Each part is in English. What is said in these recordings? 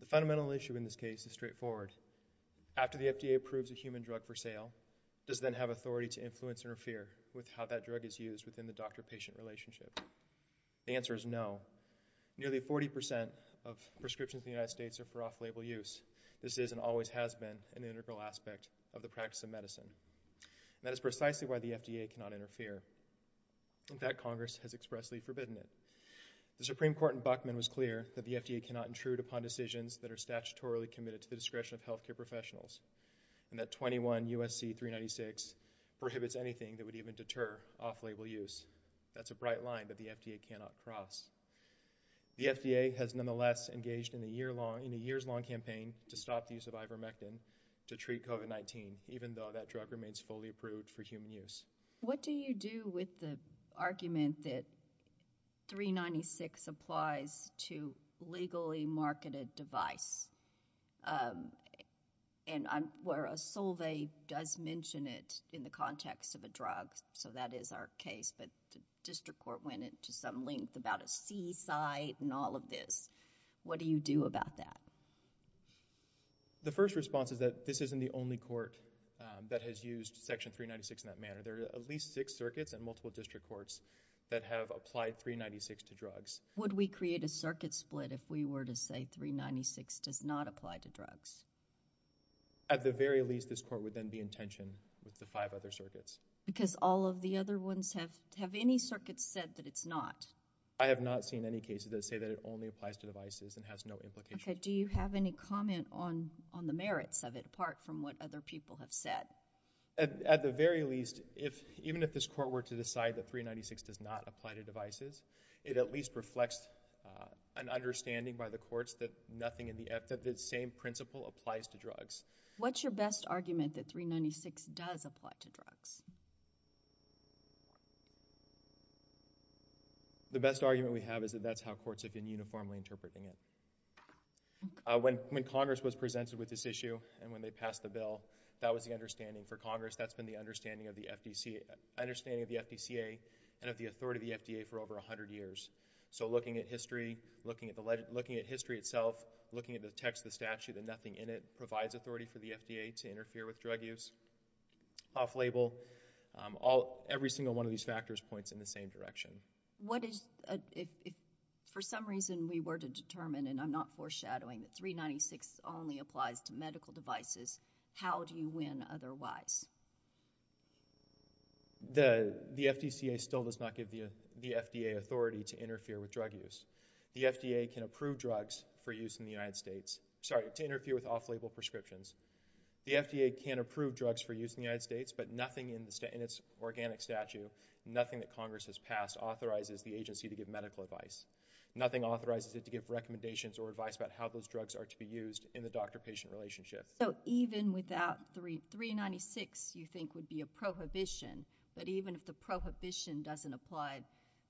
The Fundamental Issue in this case is straightforward. After the FDA approves a human drug for sale, does it then have authority to influence or interfere with how that drug is used within the doctor-patient relationship? The answer is no. Nearly 40% of prescriptions in the United States are for off-label use. This is, and always has been, an integral aspect of the practice of medicine. That is precisely why the FDA cannot interfere. In fact, Congress has expressly forbidden it. The Supreme Court in Buckman was clear that the FDA cannot intrude upon decisions that are statutorily committed to the discretion of healthcare professionals, and that 21 U.S.C. 396 prohibits anything that would even deter off-label use. That's a bright line that the FDA cannot cross. The FDA has nonetheless engaged in a years-long campaign to stop the use of ivermectin to treat COVID-19, even though that drug remains fully approved for human use. What do you do with the argument that 396 applies to legally marketed device, where a sulvey does mention it in the context of a drug, so that is our case, but the District Court went into some length about a C-site and all of this. What do you do about that? The first response is that this isn't the only court that has used Section 396 in that manner. There are at least six circuits and multiple District Courts that have applied 396 to drugs. Would we create a circuit split if we were to say 396 does not apply to drugs? At the very least, this Court would then be in tension with the five other circuits. Because all of the other ones have, have any circuits said that it's not? I have not seen any cases that say that it only applies to devices and has no implications. Do you have any comment on the merits of it, apart from what other people have said? At the very least, even if this Court were to decide that 396 does not apply to devices, it at least reflects an understanding by the Courts that nothing in the, that the same principle applies to drugs. What's your best argument that 396 does apply to drugs? The best argument we have is that that's how Courts have been uniformly interpreting it. When, when Congress was presented with this issue and when they passed the bill, that was the understanding for Congress. That's been the understanding of the FDCA, understanding of the FDCA and of the authority of the FDA for over a hundred years. So looking at history, looking at the, looking at history itself, looking at the text of the statute and nothing in it provides authority for the FDA to interfere with drug use, off-label. All, every single one of these factors points in the same direction. What is, if, if for some reason we were to determine, and I'm not foreshadowing, that 396 only applies to medical devices, how do you win otherwise? The FDCA still does not give the FDA authority to interfere with drug use. The FDA can approve drugs for use in the United States, sorry, to interfere with off-label prescriptions. The FDA can approve drugs for use in the United States, but nothing in the, in its organic statute, nothing that Congress has passed authorizes the agency to give medical advice. Nothing authorizes it to give recommendations or advice about how those drugs are to be used in the doctor-patient relationship. So even without 396 you think would be a prohibition, but even if the prohibition doesn't apply,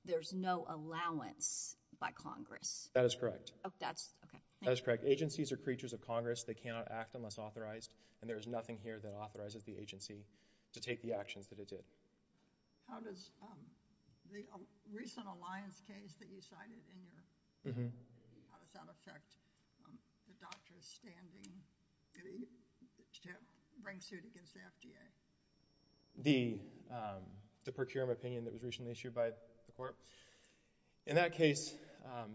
there's no allowance by Congress? That is correct. Oh, that's, okay. That is correct. Agencies are creatures of Congress. They cannot act unless authorized, and there is nothing here that authorizes the agency to take the actions that it did. How does the recent Alliance case that you cited in your, how does that affect the doctor's standing to bring suit against the FDA? The, um, the procurement opinion that was recently issued by the court? In that case, um,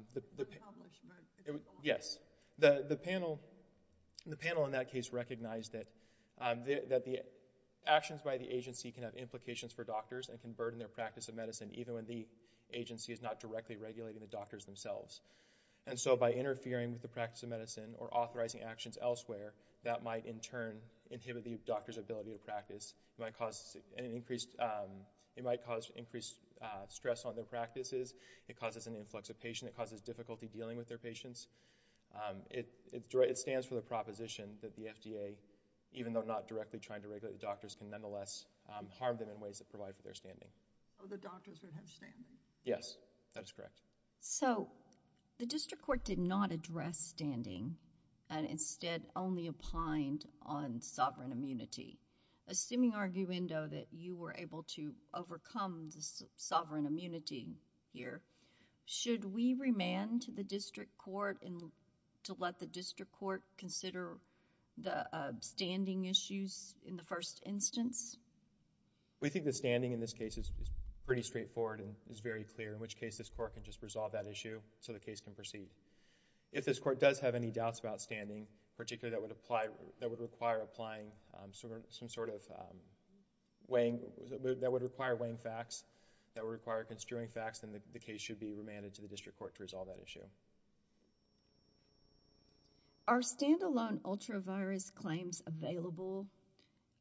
yes. The, the panel, the panel in that case recognized that, um, that the actions by the agency can have implications for doctors and can burden their practice of medicine even when the agency is not directly regulating the doctors themselves. And so by interfering with the practice of medicine or authorizing actions elsewhere, that might in turn inhibit the doctor's ability to practice. It might cause an increased, um, it might cause increased, uh, stress on their practices. It causes an influx of patients. It causes difficulty dealing with their patients. Um, it, it stands for the proposition that the FDA, even though not directly trying to regulate the doctors, can nonetheless, um, harm them in ways that provide for their standing. Oh, the doctors would have standing? Yes, that is correct. So, the district court did not address standing and instead only opined on sovereign immunity. Assuming, arguendo, that you were able to overcome this sovereign immunity here, should we remand to the district court and to let the district court consider the, uh, standing issues in the first instance? We think the standing in this case is pretty straightforward and is very clear, in which case this court can just resolve that issue so the case can proceed. If this court does have any doubts about standing, particularly that would apply, that would require applying, um, some sort of, um, weighing, that would require weighing facts, that would require construing facts, then the case should be remanded to the district court to resolve that issue. Are stand-alone ultra-virus claims available?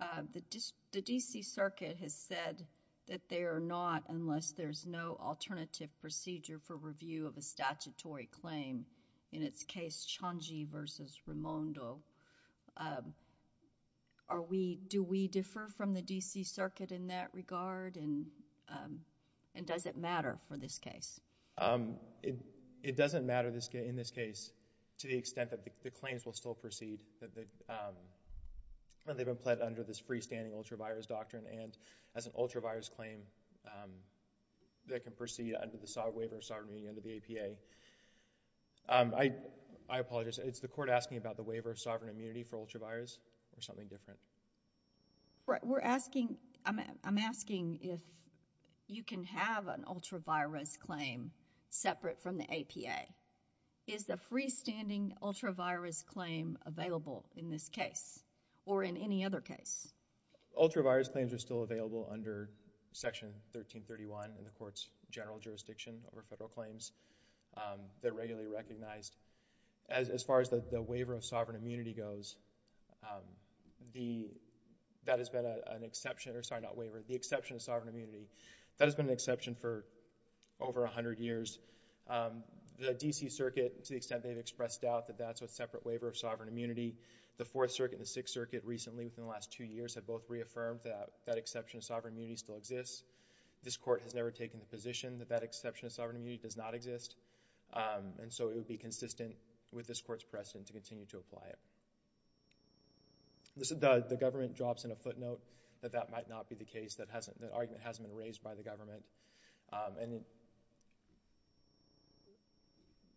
Um, the district, the D.C. Circuit has said that they are not unless there's no alternative procedure for review of a statutory claim, in its case, Chonji versus Raimondo. Um, are we, do we differ from the D.C. Circuit in that regard and, um, and does it matter for this case? Um, it, it doesn't matter in this case to the extent that the claims will still proceed, that they, um, that they've been pled under this freestanding ultra-virus doctrine and as an ultra-virus claim, um, that can proceed under the waiver of sovereignty under the APA. Um, I, I apologize, it's the court asking about the waiver of sovereign immunity for ultra-virus or something different? Right, we're asking, I'm, I'm asking if you can have an ultra-virus claim separate from the APA. Is the freestanding ultra-virus claim available in this case or in any other case? Ultra-virus claims are still available under Section 1331 in the court's general jurisdiction over federal claims. Um, they're regularly recognized. As, as far as the, the waiver of sovereign immunity goes, um, the, that has been an exception, or sorry, not waiver, the exception of sovereign immunity, that has been an exception for over a hundred years. Um, the D.C. Circuit, to the extent they've expressed doubt that that's a separate waiver of sovereign immunity, the Fourth Circuit and the Sixth Circuit recently, within the last two years, have both reaffirmed that, that exception of sovereign immunity still exists. This court has never taken the position that that exception of sovereign immunity does not exist. Um, and so it would be consistent with this court's precedent to continue to apply it. This, the, the government drops in a footnote that that might not be the case, that hasn't, that argument hasn't been raised by the government. Um, and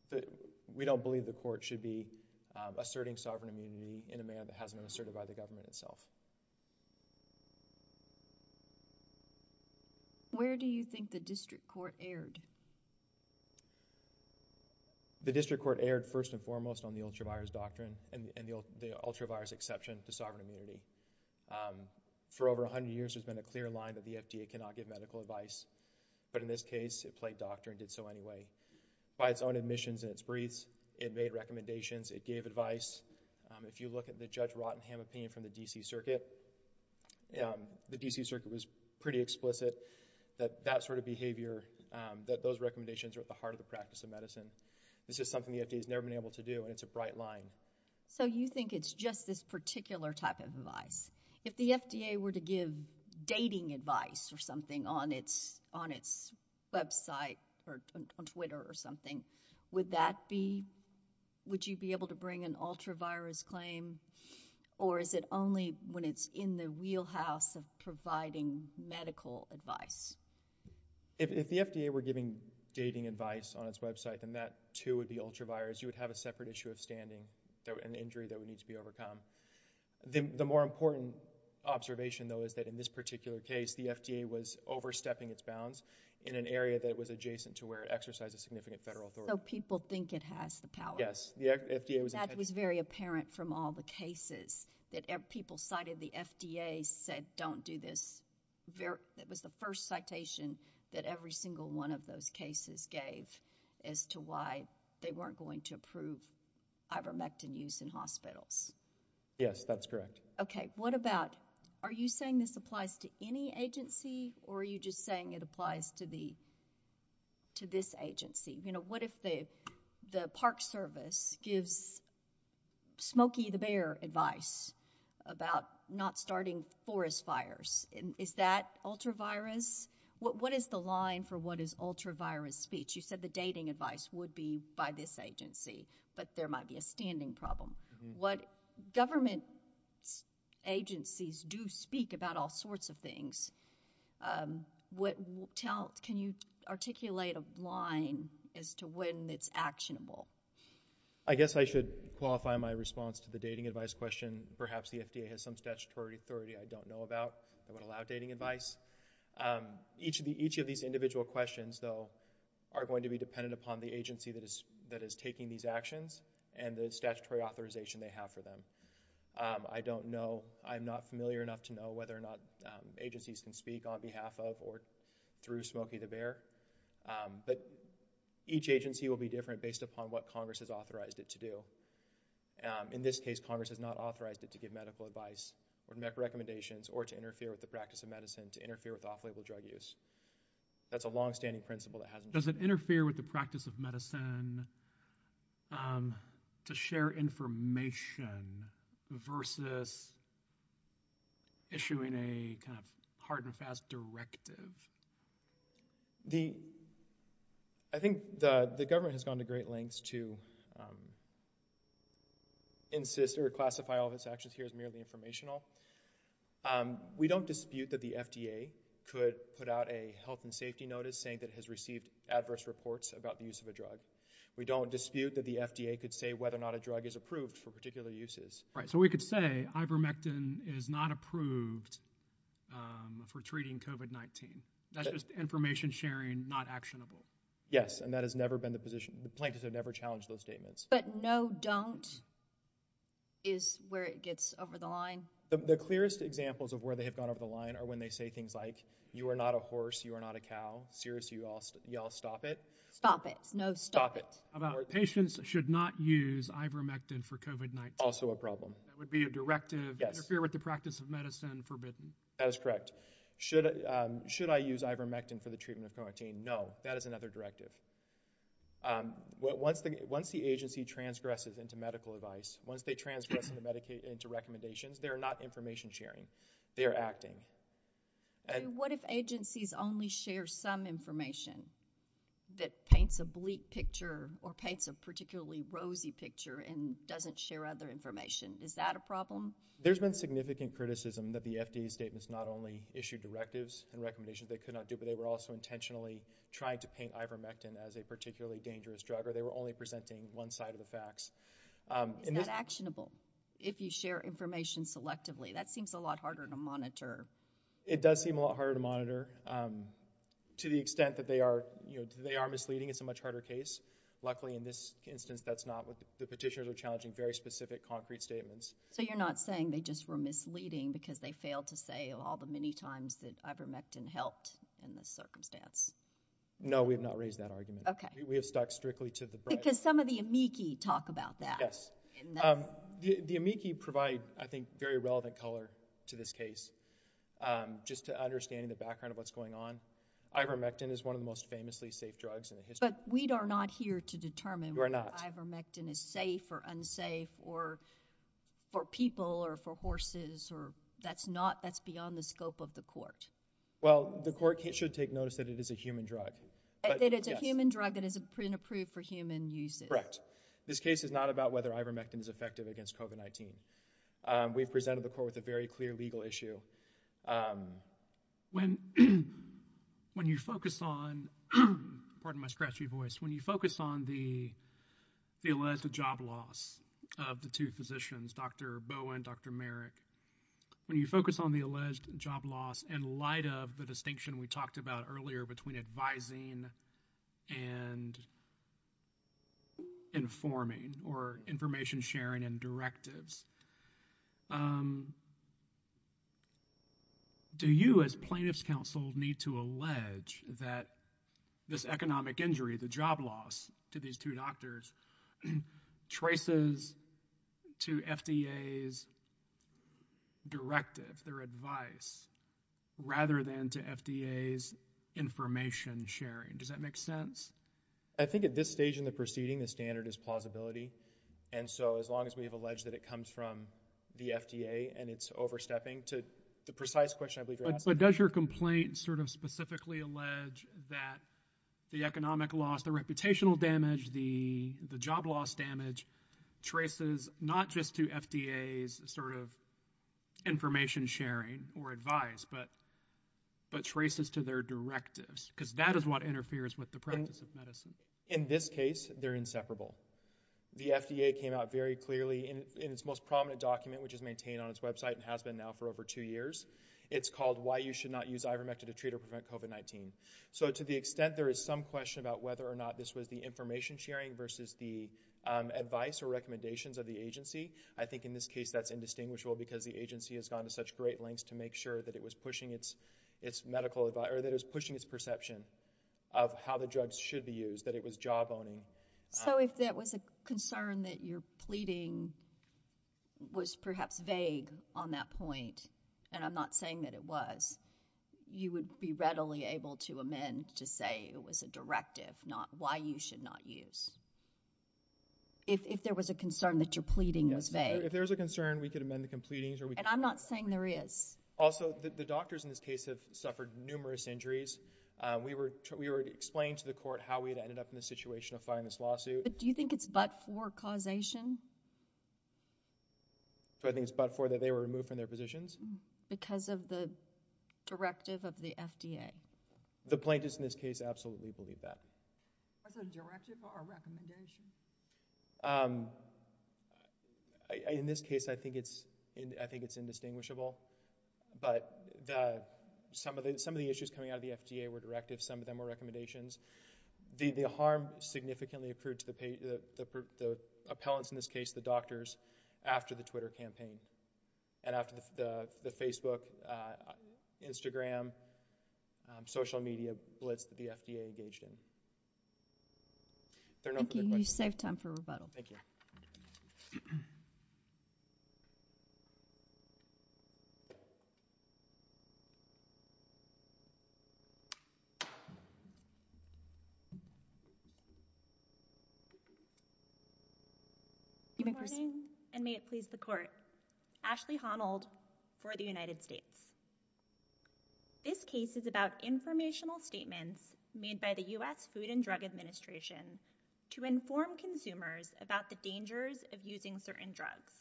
the, we don't believe the court should be, um, asserting sovereign immunity in a manner that hasn't been asserted by the government itself. Where do you think the district court erred? The district court erred first and foremost on the ultra-virus doctrine and, and the ultra-virus exception to sovereign immunity. Um, for over a hundred years there's been a clear line that the FDA cannot give medical advice, but in this case it played doctor and did so anyway. By its own admissions and its briefs, it made recommendations, it gave advice. Um, if you look at the Judge Rottenham opinion from the D.C. Circuit, um, the D.C. Circuit was pretty explicit that that sort of behavior, um, that those recommendations are at the heart of the practice of medicine. This is something the FDA has never been able to do and it's a bright line. So you think it's just this particular type of advice? If the FDA were to give dating advice or something on its, on its website or on Twitter or something, would that be, would you be able to bring an ultra-virus claim or is it only when it's in the wheelhouse of providing medical advice? If the FDA were giving dating advice on its website, then that too would be ultra-virus. You would have a separate issue of standing, an injury that would need to be overcome. The more important observation though is that in this particular case, the FDA was overstepping its bounds in an area that was adjacent to where it exercised a significant federal authority. So people think it has the power. Yes, the FDA was intended to. The site of the FDA said don't do this. It was the first citation that every single one of those cases gave as to why they weren't going to approve ivermectin use in hospitals. Yes, that's correct. Okay, what about, are you saying this applies to any agency or are you just saying it applies to the, to this agency? You know, what if the, the Park Service gives Smokey the Bear advice about not starting forest fires? Is that ultra-virus? What, what is the line for what is ultra-virus speech? You said the dating advice would be by this agency, but there might be a standing problem. What government agencies do speak about all sorts of things. What, tell, can you articulate a line as to when it's actionable? I guess I should qualify my response to the dating advice question. Perhaps the FDA has some statutory authority I don't know about that would allow dating advice. Each of the, each of these individual questions though are going to be dependent upon the agency that is, that is taking these actions and the statutory authorization they have for them. I don't know, I'm not familiar enough to know whether or not agencies can speak on behalf of or through Smokey the Bear, but each agency will be different based upon what Congress has authorized it to do. In this case, Congress has not authorized it to give medical advice or recommendations or to interfere with the practice of medicine, to interfere with off-label drug use. That's a longstanding principle that hasn't changed. Does it interfere with the practice of medicine to share information versus issuing a kind of directive? The, I think the government has gone to great lengths to insist or classify all of its actions here as merely informational. We don't dispute that the FDA could put out a health and safety notice saying that it has received adverse reports about the use of a drug. We don't dispute that the FDA could say whether or not a drug is approved for particular uses. Right, so we could say ivermectin is not approved for treating COVID-19. That's just information sharing, not actionable. Yes, and that has never been the position. The plaintiffs have never challenged those statements. But no, don't is where it gets over the line. The clearest examples of where they have gone over the line are when they say things like, you are not a horse, you are not a cow. Seriously, y'all stop it. Stop it. No, stop it. Patients should not use ivermectin for COVID-19. Also a problem. That would be a directive. Interfere with the practice of medicine, forbidden. That is correct. Should I use ivermectin for the treatment of COVID-19? No, that is another directive. Once the agency transgresses into medical advice, once they transgress into recommendations, they are not information sharing. They are acting. What if agencies only share some information that paints a bleak picture or paints a particularly rosy picture and doesn't share other information? Is that a problem? There's been significant criticism that the FDA statements not only issued directives and recommendations they could not do, but they were also intentionally trying to paint ivermectin as a particularly dangerous drug, or they were only presenting one side of the facts. Is that actionable? If you share information selectively, that seems a lot harder to monitor. It does seem a lot harder to monitor to the extent that they are, you know, they are misleading. It's not what the petitioners are challenging. Very specific, concrete statements. So you're not saying they just were misleading because they failed to say all the many times that ivermectin helped in this circumstance? No, we have not raised that argument. Okay. We have stuck strictly to the breadth. Because some of the amici talk about that. Yes. The amici provide, I think, very relevant color to this case. Just to understand the background of what's going on, ivermectin is one of the most famously safe drugs in history. But we are not here to determine whether ivermectin is safe or unsafe or for people or for horses or that's not, that's beyond the scope of the court. Well, the court should take notice that it is a human drug. That it's a human drug that is approved for human use. Correct. This case is not about whether ivermectin is effective against COVID-19. We've presented the court with a very clear legal issue. When you focus on, pardon my scratchy voice, when you focus on the alleged job loss of the two physicians, Dr. Bowen, Dr. Merrick, when you focus on the alleged job loss in light of the distinction we talked about earlier between advising and informing or information sharing and directives, do you as plaintiff's counsel need to allege that this economic injury, the job loss to these two doctors traces to FDA's directive, their advice, rather than to FDA's information sharing? Does that make sense? I think at this stage in the proceeding, the standard is plausibility. And so as long as we have alleged that it comes from the FDA and it's overstepping to the precise question I believe you're asking. But does your complaint sort of specifically allege that the economic loss, the reputational damage, the job loss damage traces not just to FDA's sort of information sharing or advice, but traces to their directives? Because that is what interferes with the practice of medicine. In this case, they're inseparable. The FDA came out very clearly in its most prominent document, which is maintained on its website and has been now for over two years. It's called why you should not use ivermectin to treat or prevent COVID-19. So to the extent there is some question about whether or not this was the information sharing versus the advice or recommendations of the agency, I think in this case that's indistinguishable because the agency has gone to such great lengths to make sure that it was pushing its medical advice or that it was pushing its perception of how the drugs should be used, that it was job owning. So if there was a concern that your pleading was perhaps vague on that point, and I'm not saying that it was, you would be readily able to amend to say it was a directive, not why you should not use. If there was a concern that your pleading was vague. If there was a concern, we could amend the completings or we could- And I'm not saying there is. Also the doctors in this case have suffered numerous injuries. We were explained to the court that they were removed from their positions because of the directive of the FDA. But do you think it's but for causation? Do I think it's but for that they were removed from their positions? Because of the directive of the FDA. The plaintiffs in this case absolutely believe that. Was it a directive or a recommendation? In this case, I think it's indistinguishable, but some of the issues coming out of the FDA were directives, some of them were recommendations. The harm significantly accrued to the appellants in this case, the doctors, after the Twitter campaign and after the Facebook, Instagram, social media blitz that the FDA engaged in. Thank you. You saved time for rebuttal. Thank you. Good morning and may it please the court. Ashley Honnold for the United States. This case is about informational statements made by the U.S. Food and Drug Administration to inform consumers about the dangers of using certain drugs.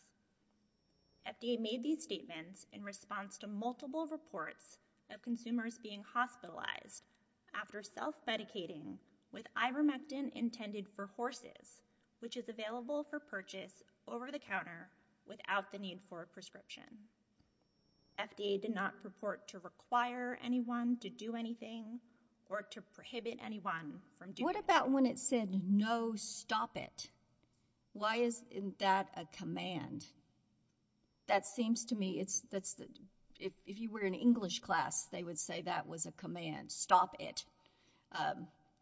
FDA made these statements in response to multiple reports of consumers being hospitalized after self-medicating with ivermectin intended for horses, which is available for purchase over the counter without the need for a prescription. FDA did not purport to require anyone to do anything or to prohibit anyone from doing So what about when it said, no, stop it? Why isn't that a command? That seems to me, if you were in English class, they would say that was a command, stop it.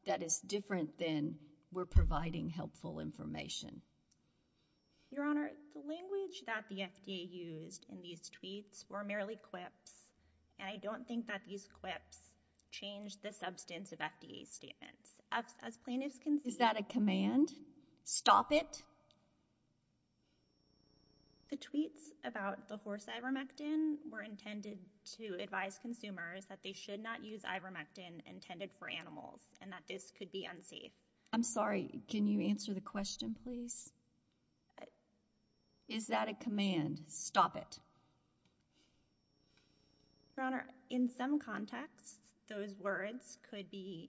That is different than we're providing helpful information. Your Honor, the language that the FDA used in these tweets were merely quips, and I don't think that these quips changed the substance of FDA's statements. Is that a command? Stop it? The tweets about the horse ivermectin were intended to advise consumers that they should not use ivermectin intended for animals and that this could be unsafe. I'm sorry, can you answer the question, please? Is that a command? Stop it. Your Honor, in some contexts, those words could be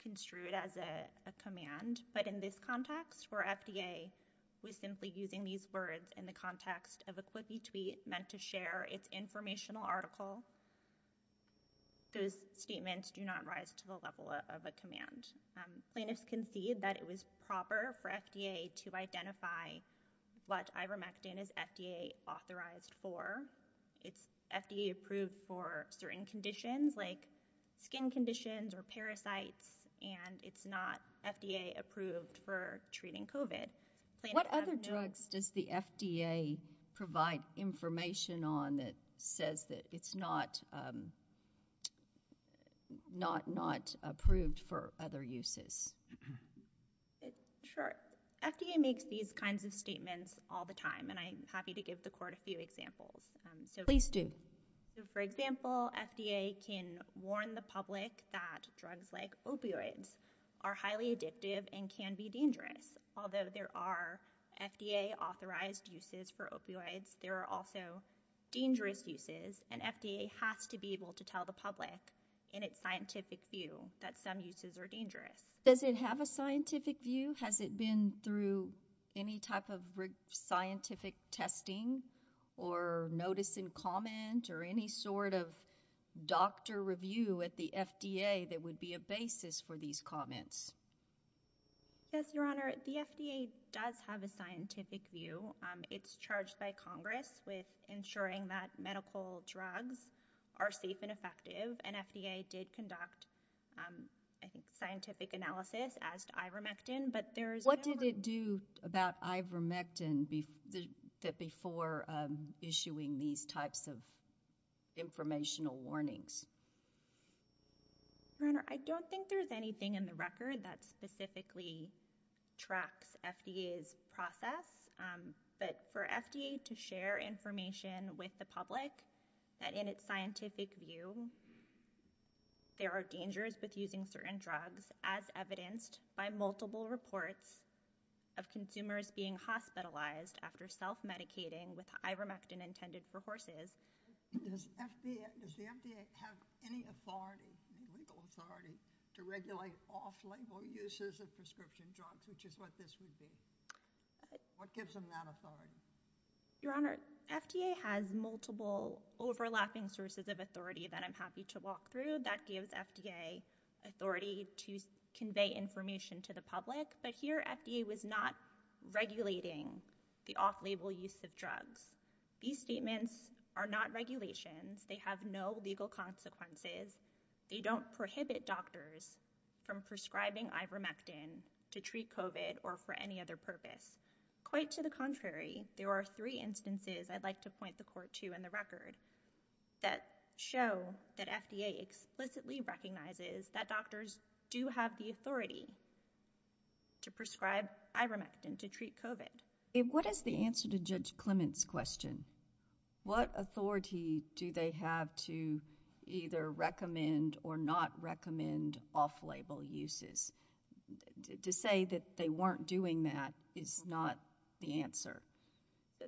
construed as a command, but in this context, where FDA was simply using these words in the context of a quippy tweet meant to share its informational article, those statements do not rise to the level of a command. Plaintiffs concede that it was proper for FDA to identify what ivermectin is FDA authorized for. It's FDA approved for certain conditions like skin conditions or parasites, and it's not FDA approved for treating COVID. What other drugs does the FDA provide information on that says that it's not approved for other uses? Sure. FDA makes these kinds of statements all the time, and I'm happy to give the Court a few examples. Please do. For example, FDA can warn the public that drugs like opioids are highly addictive and can be dangerous. Although there are FDA authorized uses for opioids, there are also dangerous uses, and FDA has to be able to tell the public in its scientific view that some uses are dangerous. Does it have a scientific view? Has it been through any type of scientific testing or notice and comment or any sort of doctor review at the FDA that would be a basis for these comments? Yes, Your Honor. The FDA does have a scientific view. It's charged by Congress with ensuring that medical drugs are safe and effective, and What did it do about ivermectin before issuing these types of informational warnings? Your Honor, I don't think there's anything in the record that specifically tracks FDA's process, but for FDA to share information with the public that in its scientific view there are dangers with using certain drugs, as evidenced by multiple reports of consumers being hospitalized after self-medicating with ivermectin intended for horses. Does the FDA have any authority, legal authority, to regulate off-label uses of prescription drugs, which is what this would be? What gives them that authority? Your Honor, FDA has multiple overlapping sources of authority that I'm happy to walk through that gives FDA authority to convey information to the public, but here FDA was not regulating the off-label use of drugs. These statements are not regulations. They have no legal consequences. They don't prohibit doctors from prescribing ivermectin to treat COVID or for any other purpose. Quite to the contrary, there are three instances I'd like to point the Court to in the record that show that FDA explicitly recognizes that doctors do have the authority to prescribe ivermectin to treat COVID. What is the answer to Judge Clement's question? What authority do they have to either recommend or not recommend off-label uses? To say that they weren't doing that is not the answer.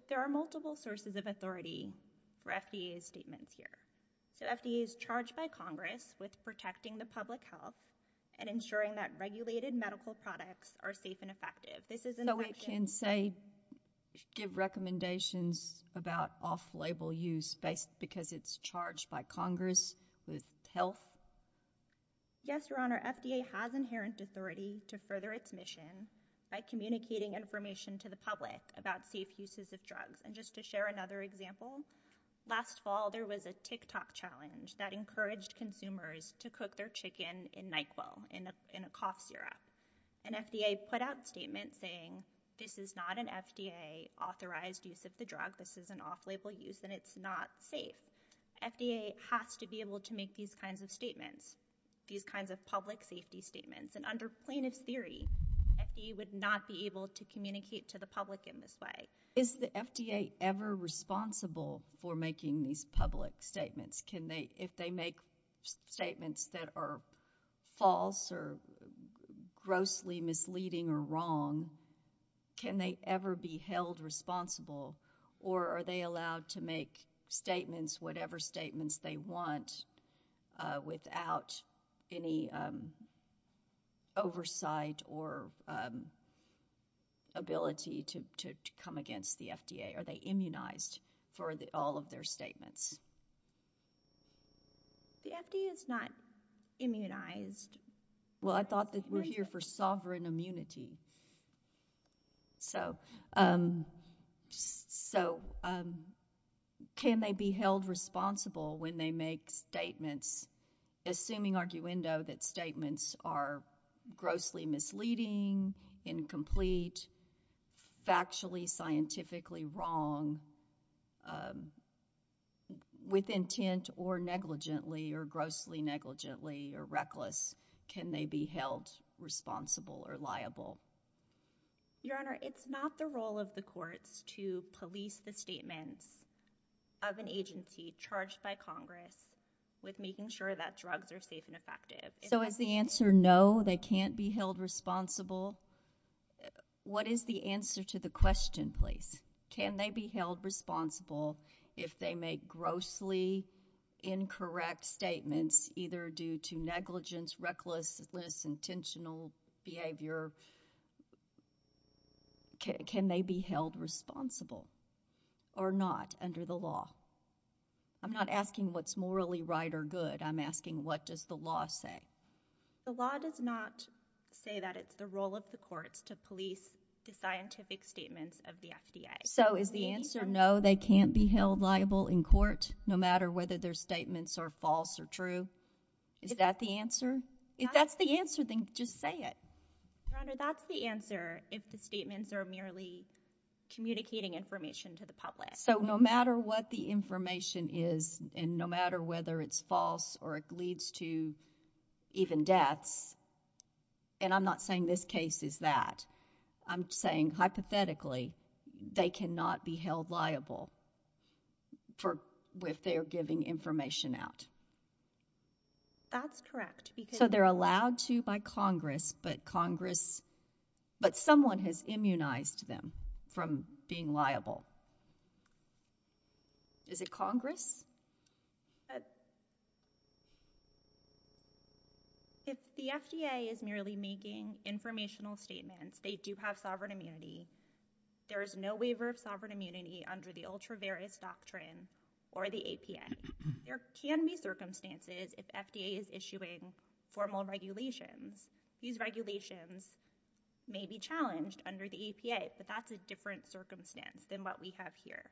There are multiple sources of authority for FDA's statements here. So FDA is charged by Congress with protecting the public health and ensuring that regulated medical products are safe and effective. So we can say, give recommendations about off-label use because it's charged by Congress with health? Yes, Your Honor. FDA has inherent authority to further its mission by communicating information to the public about safe uses of drugs. And just to share another example, last fall there was a TikTok challenge that encouraged consumers to cook their chicken in NyQuil, in a cough syrup. And FDA put out a statement saying, this is not an FDA-authorized use of the drug. This is an off-label use and it's not safe. FDA has to be able to make these kinds of statements, these kinds of public safety statements. And under plaintiff's theory, FDA would not be able to communicate to the public in this way. Is the FDA ever responsible for making these public statements? If they make statements that are false or grossly misleading or wrong, can they ever be held responsible? Or are they allowed to make statements, whatever statements they want, without any oversight or ability to come against the FDA? Are they immunized for all of their statements? The FDA is not immunized. Well, I thought that we're here for sovereign immunity. So can they be held responsible when they make statements, assuming arguendo that statements are grossly misleading, incomplete, factually, scientifically wrong, with intent or negligently or grossly negligently or reckless? Can they be held responsible or liable? Your Honor, it's not the role of the courts to police the statements of an agency charged by Congress with making sure that drugs are safe and effective. So is the answer no, they can't be held responsible? What is the answer to the question, please? Can they be held responsible if they make grossly incorrect statements, either due to recklessness, intentional behavior? Can they be held responsible or not under the law? I'm not asking what's morally right or good. I'm asking, what does the law say? The law does not say that it's the role of the courts to police the scientific statements of the FDA. So is the answer no, they can't be held liable in court, no matter whether their statements are false or true? Is that the answer? If that's the answer, then just say it. Your Honor, that's the answer if the statements are merely communicating information to the public. So no matter what the information is, and no matter whether it's false or it leads to even deaths, and I'm not saying this case is that, I'm saying, hypothetically, they can't be held liable. That's correct. So they're allowed to by Congress, but Congress, but someone has immunized them from being liable. Is it Congress? If the FDA is merely making informational statements, they do have sovereign immunity. There is no waiver of sovereign immunity under the ultra-various doctrine or the APA. There can be circumstances if FDA is issuing formal regulations. These regulations may be challenged under the APA, but that's a different circumstance than what we have here.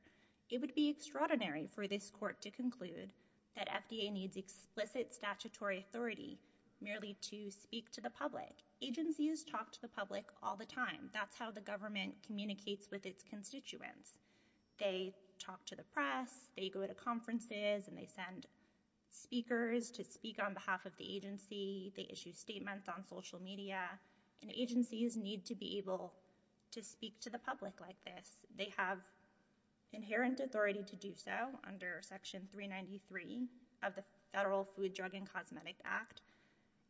It would be extraordinary for this court to conclude that FDA needs explicit statutory authority merely to speak to the public. Agencies talk to the public all the time. That's how the government communicates with its constituents. They talk to the press, they go to conferences, and they send speakers to speak on behalf of the agency. They issue statements on social media, and agencies need to be able to speak to the public like this. They have inherent authority to do so under Section 393 of the Federal Food, Drug, and Cosmetic Act,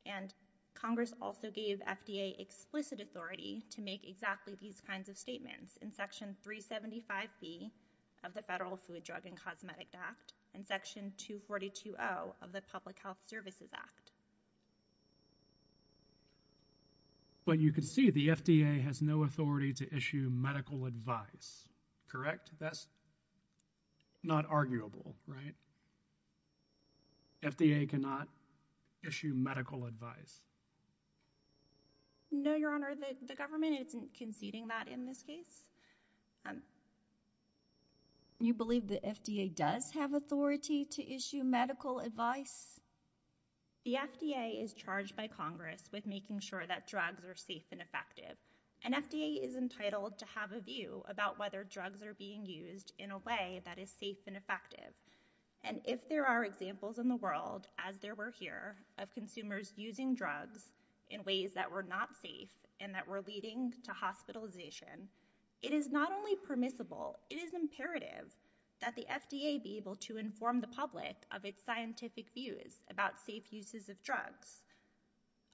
and Congress also gave FDA explicit authority to make exactly these kinds of statements. In Section 375B of the Federal Food, Drug, and Cosmetic Act, and Section 242-0 of the Public Health Services Act. But you can see the FDA has no authority to issue medical advice, correct? That's not arguable, right? FDA cannot issue medical advice. No, Your Honor. The government isn't conceding that in this case. You believe the FDA does have authority to issue medical advice? The FDA is charged by Congress with making sure that drugs are safe and effective, and FDA is entitled to have a view about whether drugs are being used in a way that is safe and effective, and if there are examples in the world, as there were here, of consumers using drugs in ways that were not safe and that were leading to hospitalization, it is not only permissible, it is imperative that the FDA be able to inform the public of its scientific views about safe uses of drugs.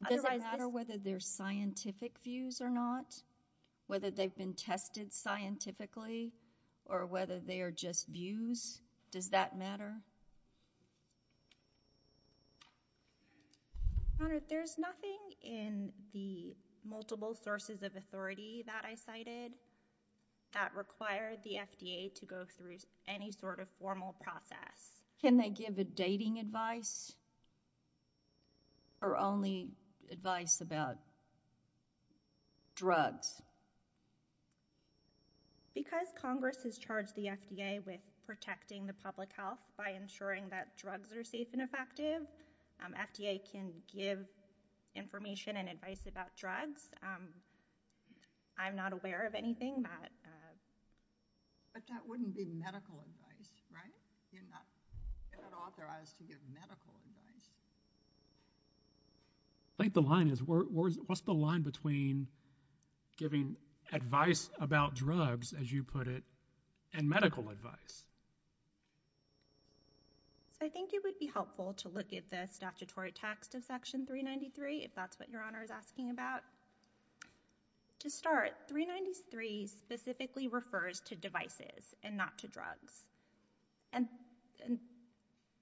Does it matter whether they're scientific views or not? Whether they've been tested scientifically, or whether they are just views? Does that matter? Your Honor, there's nothing in the multiple sources of authority that I cited that require the FDA to go through any sort of formal process. Can they give a dating advice, or only advice about drugs? Because Congress has charged the FDA with protecting the public health by ensuring that drugs are safe and effective, FDA can give information and advice about drugs. I'm not aware of anything that... But that wouldn't be medical advice, right? You're not authorized to give medical advice. I think the line is, what's the line between giving advice about drugs, as you put it, and medical advice? So I think it would be helpful to look at the statutory text of Section 393, if that's what Your Honor is asking about. To start, 393 specifically refers to devices and not to drugs. And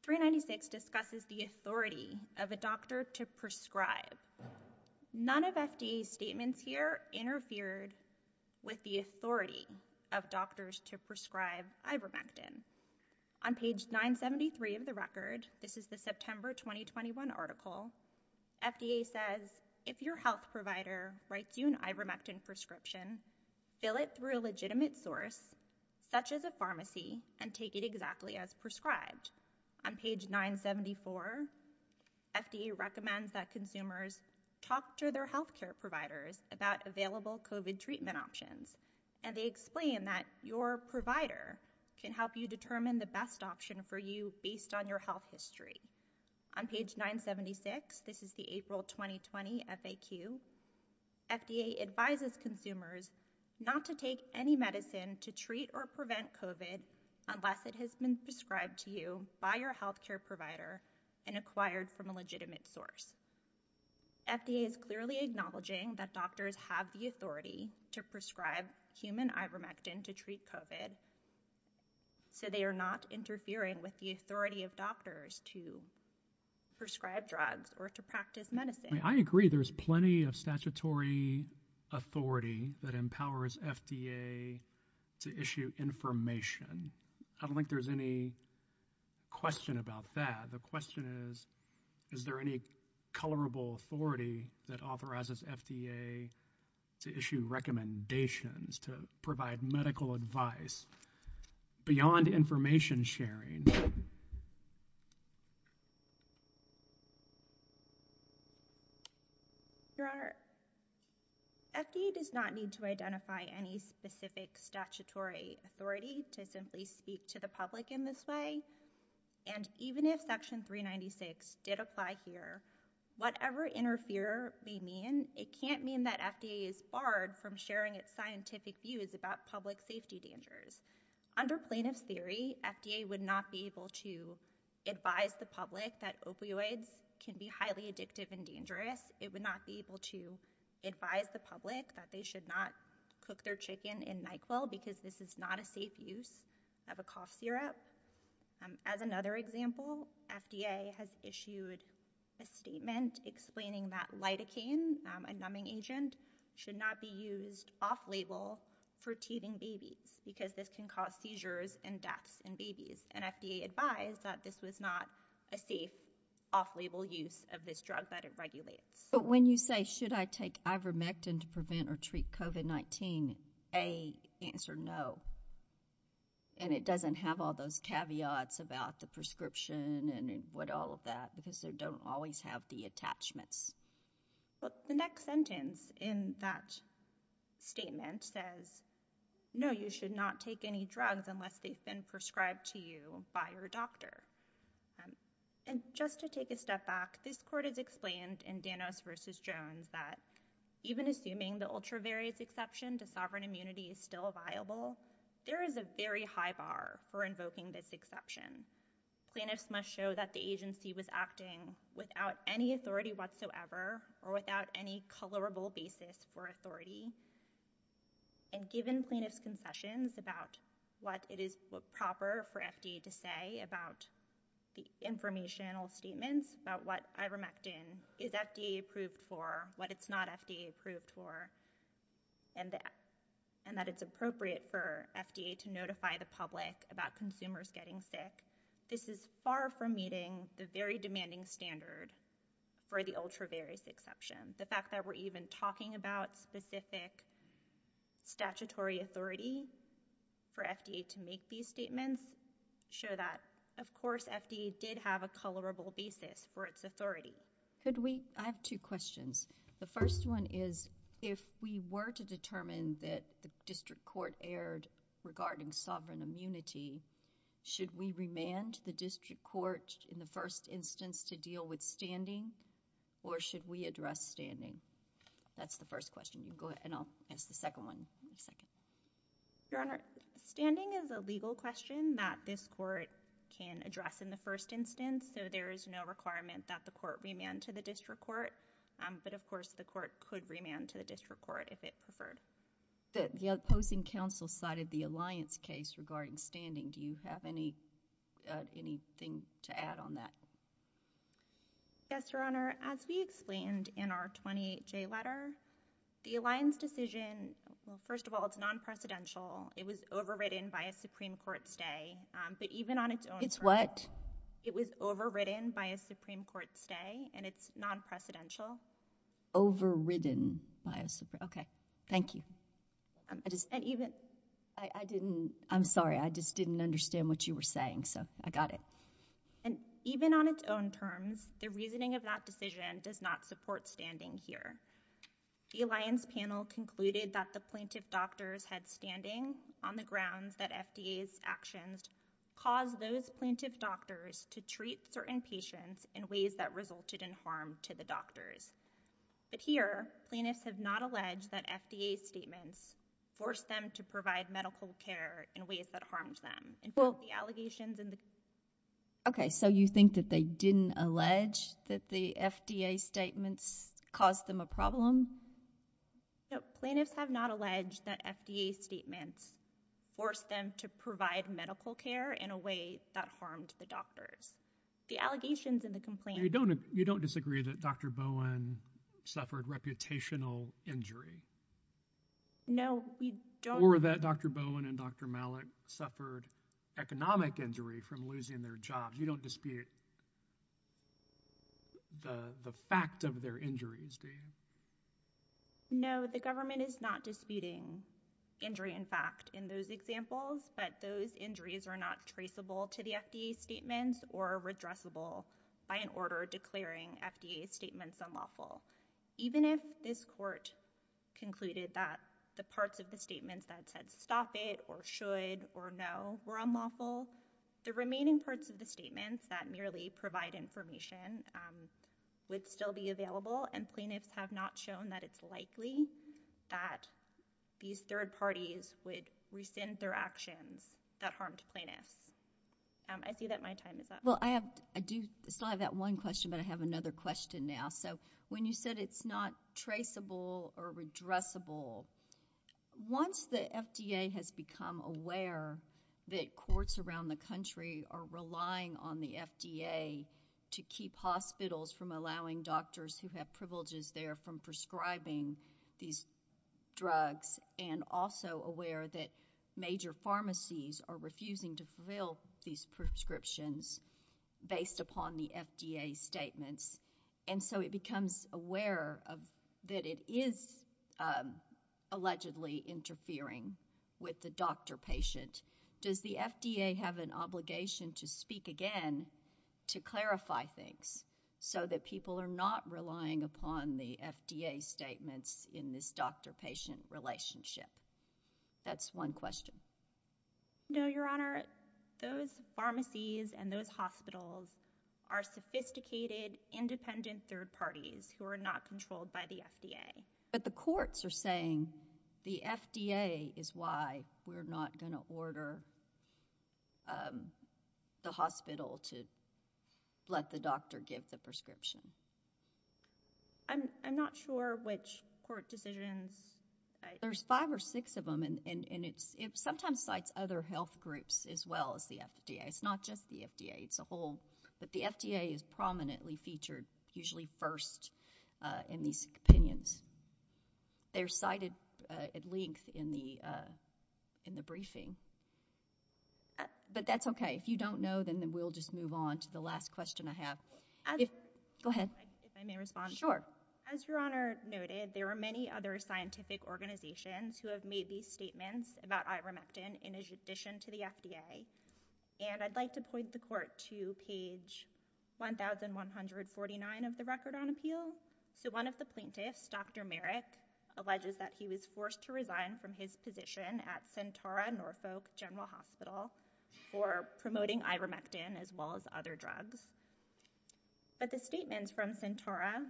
396 discusses the authority of a doctor to prescribe. None of FDA's statements here interfered with the authority of doctors to prescribe ivermectin. On page 973 of the record, this is the September 2021 article, FDA says, if your health provider writes you an ivermectin prescription, fill it through a legitimate source, such as a pharmacy, and take it exactly as prescribed. On page 974, FDA recommends that consumers talk to their health care providers about available COVID treatment options. And they explain that your provider can help you determine the best option for you based on your health history. On page 976, this is the April 2020 FAQ, FDA advises consumers not to take any medicine to treat or prevent COVID unless it has been prescribed to you by your health care provider and acquired from a legitimate source. FDA is clearly acknowledging that doctors have the authority to prescribe human ivermectin to treat COVID, so they are not interfering with the authority of doctors to prescribe drugs or to practice medicine. I agree there's plenty of statutory authority that empowers FDA to issue information. I don't think there's any question about that. The question is, is there any colorable authority that authorizes FDA to issue recommendations to provide medical advice beyond information sharing? There are. FDA does not need to identify any specific statutory authority to simply speak to the public in this way. And even if section 396 did apply here, whatever interfere may mean, it can't mean that FDA is barred from sharing its scientific views about public safety dangers. Under plaintiff's theory, FDA would not be able to advise the public that opioids can be highly addictive and dangerous. It would not be able to advise the public that they should not cook their chicken in NyQuil because this is not a safe use of a cough syrup. As another example, FDA has issued a statement explaining that lidocaine, a numbing agent, should not be used off-label for teething babies because this can cause seizures and deaths in babies. And FDA advised that this was not a safe off-label use of this drug that it regulates. But when you say, should I take ivermectin to prevent or treat COVID-19, a, answer no. And it doesn't have all those caveats about the prescription and what all of that because they don't always have the attachments. But the next sentence in that statement says, no, you should not take any drugs unless they've been prescribed to you by your doctor. And just to take a step back, this court has explained in Danos v. Jones that even assuming the ultra-various exception to sovereign immunity is still viable, there is a very high bar for invoking this exception. Plaintiffs must show that the agency was acting without any authority whatsoever or without any colorable basis for authority. And given plaintiffs' concessions about what it is proper for FDA to say about the informational statements about what ivermectin is FDA approved for, what it's not FDA approved for, and that it's appropriate for FDA to notify the public about consumers getting sick, this is far from meeting the very demanding standard for the ultra-various exception. The fact that we're even talking about specific statutory authority for FDA to make these statements is a very high bar. any colorable basis for its authority. I have two questions. The first one is, if we were to determine that the district court erred regarding sovereign immunity, should we remand the district court in the first instance to deal with standing, or should we address standing? That's the first question. You can go ahead, and I'll ask the second one in a second. Your Honor, standing is a legal question that this court can address in the first instance, so there is no requirement that the court remand to the district court, but of course the court could remand to the district court if it preferred. The opposing counsel cited the Alliance case regarding standing. Do you have anything to add on that? Yes, Your Honor. As we explained in our 28J letter, the Alliance decision, first of all, it's non-precedential. It was overridden by a Supreme Court stay, but even on its own terms— It's what? It was overridden by a Supreme Court stay, and it's non-precedential. Overridden by a Supreme—okay. Thank you. I just— And even— I didn't—I'm sorry. I just didn't understand what you were saying, so I got it. And even on its own terms, the reasoning of that decision does not support standing here. The Alliance panel concluded that the plaintiff doctors had standing on the grounds that FDA's actions caused those plaintiff doctors to treat certain patients in ways that resulted in harm to the doctors. But here, plaintiffs have not alleged that FDA's statements forced them to provide medical care in ways that harmed them. And both the allegations and the— Okay, so you think that they didn't allege that the FDA's statements caused them a problem? No, plaintiffs have not alleged that FDA's statements forced them to provide medical care in a way that harmed the doctors. The allegations in the complaint— You don't disagree that Dr. Bowen suffered reputational injury? No, we don't— Or that Dr. Bowen and Dr. Malik suffered economic injury from losing their jobs. You don't dispute the fact of their injuries, do you? No, the government is not disputing injury in fact in those examples, but those injuries are not traceable to the FDA's statements or redressable by an order declaring FDA's statements unlawful. Even if this court concluded that the parts of the statements that said stop it or should or no were unlawful, the remaining parts of the statements that merely provide information would still be available, and plaintiffs have not shown that it's likely that these third parties would rescind their actions that harmed plaintiffs. I see that my time is up. Well, I do still have that one question, but I have another question now. When you said it's not traceable or redressable, once the FDA has become aware that courts around the country are relying on the FDA to keep hospitals from allowing doctors who have privileges there from prescribing these drugs and also aware that major pharmacies are refusing to fulfill these prescriptions based upon the FDA's statements, and so it becomes aware that it is allegedly interfering with the doctor-patient, does the FDA have an obligation to speak again to clarify things so that people are not relying upon the FDA statements in this doctor-patient relationship? That's one question. No, Your Honor. Those pharmacies and those hospitals are sophisticated, independent third parties who are not controlled by the FDA. But the courts are saying the FDA is why we're not going to order the hospital to let the doctor give the prescription. I'm not sure which court decisions— There's five or six of them, and it sometimes cites other health groups as well as the FDA. It's not just the FDA. It's a whole—but the FDA is prominently featured usually first in these opinions. They're cited at length in the briefing. But that's okay. If you don't know, then we'll just move on to the last question I have. Go ahead. If I may respond? Sure. So as Your Honor noted, there are many other scientific organizations who have made these statements about ivermectin in addition to the FDA. And I'd like to point the court to page 1149 of the Record on Appeal. So one of the plaintiffs, Dr. Merrick, alleges that he was forced to resign from his position at Sentara Norfolk General Hospital for promoting ivermectin as well as other drugs. But the statements from Sentara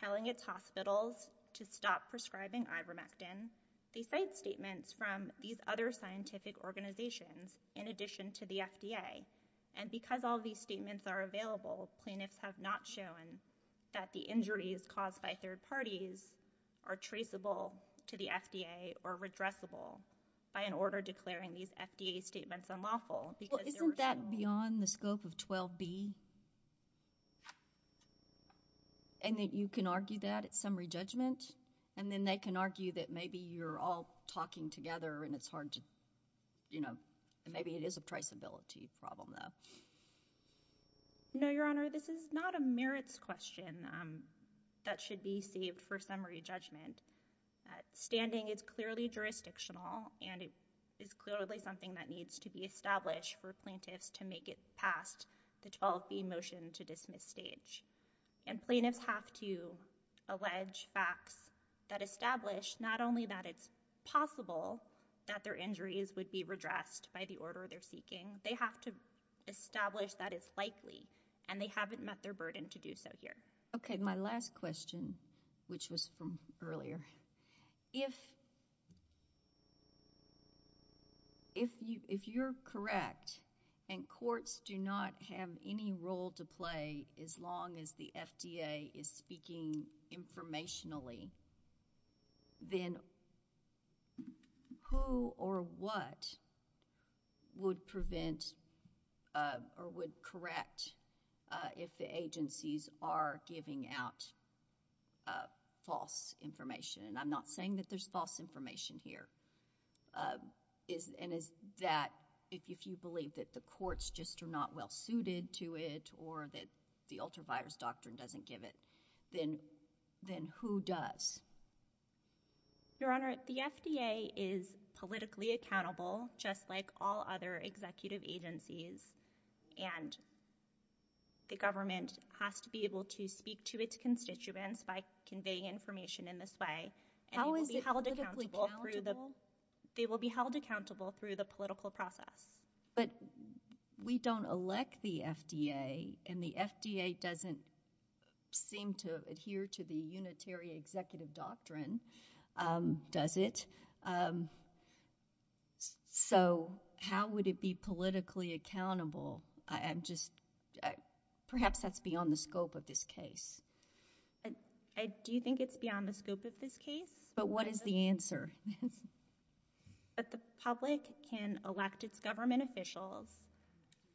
telling its hospitals to stop prescribing ivermectin, they cite statements from these other scientific organizations in addition to the FDA. And because all these statements are available, plaintiffs have not shown that the injuries caused by third parties are traceable to the FDA or redressable by an order declaring these FDA statements unlawful because they're— Is that beyond the scope of 12B? And that you can argue that at summary judgment? And then they can argue that maybe you're all talking together and it's hard to, you know—and maybe it is a traceability problem, though. No, Your Honor. This is not a merits question that should be saved for summary judgment. Standing is clearly jurisdictional and it is clearly something that needs to be established for plaintiffs to make it past the 12B motion to dismiss stage. And plaintiffs have to allege facts that establish not only that it's possible that their injuries would be redressed by the order they're seeking, they have to establish that it's likely and they haven't met their burden to do so here. Okay, my last question, which was from earlier. If you're correct and courts do not have any role to play as long as the FDA is speaking informationally, then who or what would prevent or would correct if the agencies are giving out false information? And I'm not saying that there's false information here. And is that if you believe that the courts just are not well-suited to it or that the ultraviolet doctrine doesn't give it, then who does? Your Honor, the FDA is politically accountable, just like all other executive agencies, and the government has to be able to speak to its constituents by conveying information in this way. How is it politically accountable? They will be held accountable through the political process. But we don't elect the FDA, and the FDA doesn't seem to adhere to the unitary executive doctrine, does it? So how would it be politically accountable? I'm just, perhaps that's beyond the scope of this case. Do you think it's beyond the scope of this case? But what is the answer? But the public can elect its government officials,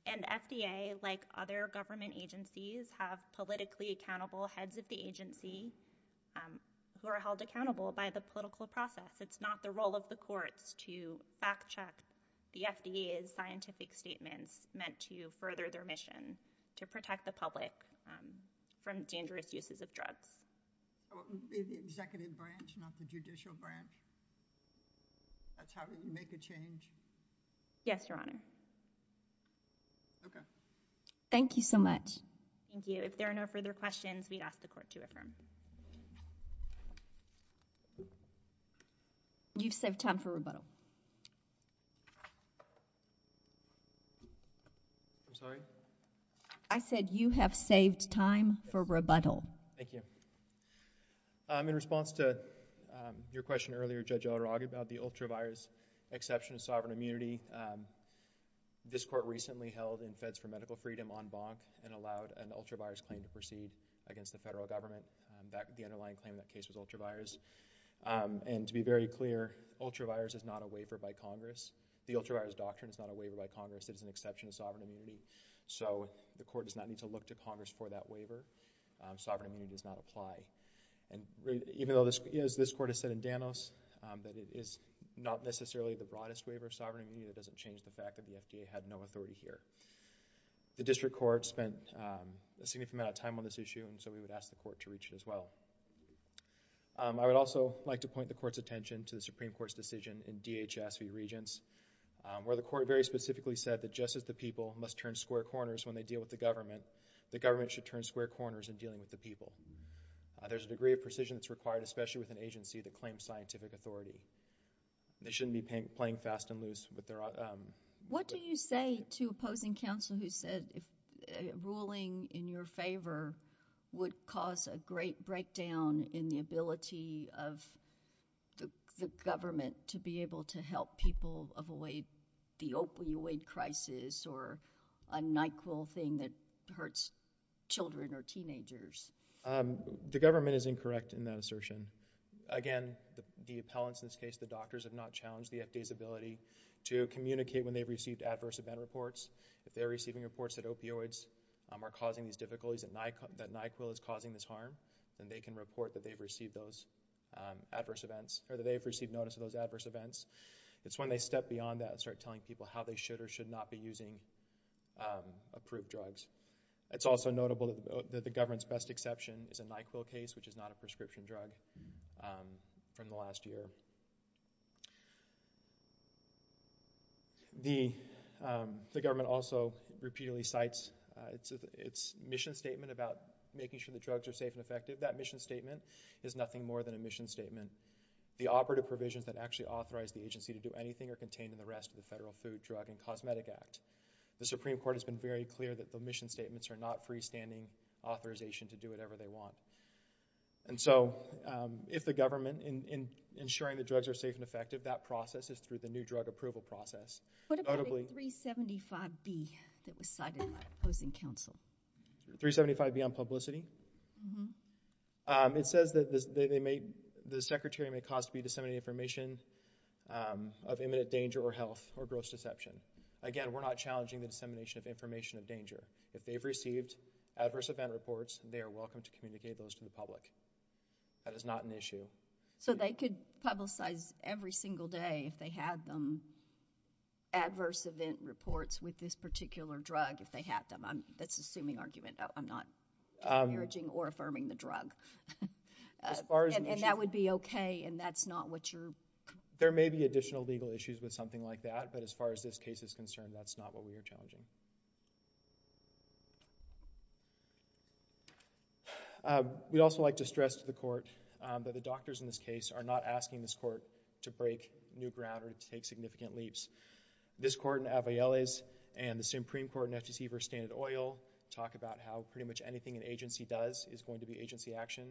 and FDA, like other government agencies, have politically accountable heads of the agency who are held accountable by the political process. It's not the role of the courts to fact-check the FDA's scientific statements meant to further their mission to protect the public from dangerous uses of drugs. It would be the executive branch, not the judicial branch? That's how you make a change? Yes, Your Honor. Okay. Thank you so much. Thank you. If there are no further questions, we'd ask the court to affirm. You've saved time for rebuttal. I'm sorry? I said, you have saved time for rebuttal. Thank you. In response to your question earlier, Judge Otterog, about the ultra-virus exception of sovereign immunity, this court recently held in Feds for Medical Freedom on Bonk and allowed an ultra-virus claim to proceed against the federal government. The underlying claim in that case was ultra-virus. To be very clear, ultra-virus is not a waiver by Congress. The ultra-virus doctrine is not a waiver by Congress. It is an exception to sovereign immunity. The court does not need to look to Congress for that waiver. Sovereign immunity does not apply. Even though this court has said in Danos that it is not necessarily the broadest waiver of sovereign immunity, that doesn't change the fact that the FDA had no authority here. The district court spent a significant amount of time on this issue, and so we would ask the court to reach it as well. I would also like to point the court's attention to the Supreme Court's decision in DHS v. Regents, where the court very specifically said that just as the people must turn square corners when they deal with the government, the government should turn square corners in dealing with the people. There's a degree of precision that's required, especially with an agency that claims scientific authority. They shouldn't be playing fast and loose with their— What do you say to opposing counsel who said ruling in your favor would cause a great letdown in the ability of the government to be able to help people avoid the opioid crisis or a NyQuil thing that hurts children or teenagers? The government is incorrect in that assertion. Again, the appellants in this case, the doctors, have not challenged the FDA's ability to communicate when they've received adverse event reports. If they're receiving reports that opioids are causing these difficulties, that NyQuil is causing this harm, then they can report that they've received those adverse events, or that they've received notice of those adverse events. It's when they step beyond that and start telling people how they should or should not be using approved drugs. It's also notable that the government's best exception is a NyQuil case, which is not a prescription drug, from the last year. The government also repeatedly cites its mission statement about making sure the drugs are safe and effective. That mission statement is nothing more than a mission statement. The operative provisions that actually authorize the agency to do anything are contained in the rest of the Federal Food, Drug, and Cosmetic Act. The Supreme Court has been very clear that the mission statements are not freestanding authorization to do whatever they want. And so, if the government, in ensuring that drugs are safe and effective, that process is through the new drug approval process. What about a 375B that was cited in the Proposing Council? 375B on publicity? It says that the Secretary may cause to be disseminated information of imminent danger or health or gross deception. If they've received adverse event reports, they are welcome to communicate those to the public. That is not an issue. So, they could publicize every single day, if they had them, adverse event reports with this particular drug, if they had them. That's an assuming argument. I'm not disparaging or affirming the drug. And that would be okay, and that's not what you're... There may be additional legal issues with something like that, but as far as this case is concerned, that's not what we are challenging. We'd also like to stress to the Court that the doctors in this case are not asking this Court to break new ground or to take significant leaps. This Court in Avieles and the Supreme Court in FTC v. Standard Oil talk about how pretty much anything an agency does is going to be agency action.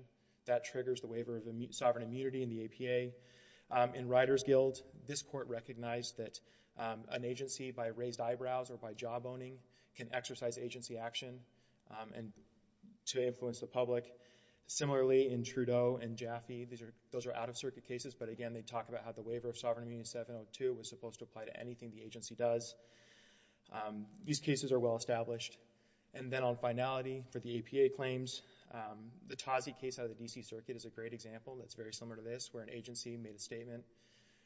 That triggers the waiver of sovereign immunity in the APA. In Rider's Guild, this Court recognized that an agency, by raised eyebrows or by job-owning, can exercise agency action to influence the public. Similarly, in Trudeau and Jaffe, those are out-of-circuit cases, but again, they talk about how the waiver of sovereign immunity in 702 was supposed to apply to anything the agency does. These cases are well-established. And then on finality, for the APA claims, the Tazi case out of the D.C. Circuit is a great example that's very similar to this, where an agency made a statement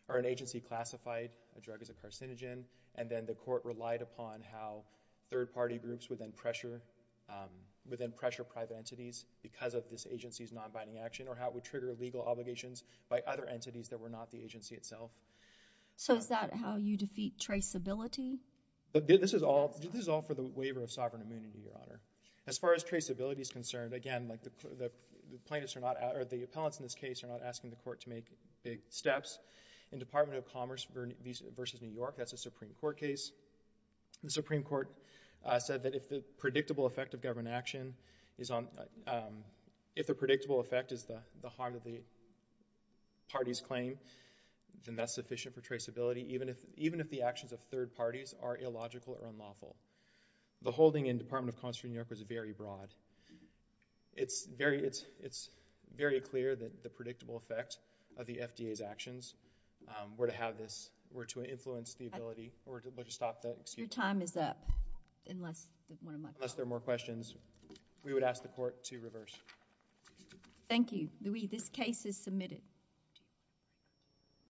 or an agency classified a drug as a carcinogen. And then the Court relied upon how third-party groups would then pressure private entities because of this agency's non-binding action or how it would trigger legal obligations by other entities that were not the agency itself. So is that how you defeat traceability? This is all for the waiver of sovereign immunity, Your Honor. As far as traceability is concerned, again, the plaintiffs are not—or the appellants in this case are not asking the Court to make big steps. In Department of Commerce v. New York, that's a Supreme Court case, the Supreme Court said that if the predictable effect of government action is on—if the predictable effect is the harm that the parties claim, then that's sufficient for traceability, even if the actions of third parties are illogical or unlawful. The holding in Department of Commerce v. New York was very broad. It's very clear that the predictable effect of the FDA's actions were to have this—were to influence the ability—or to stop the— Your time is up, unless one of my— Unless there are more questions, we would ask the Court to reverse. Thank you. Louie, this case is submitted.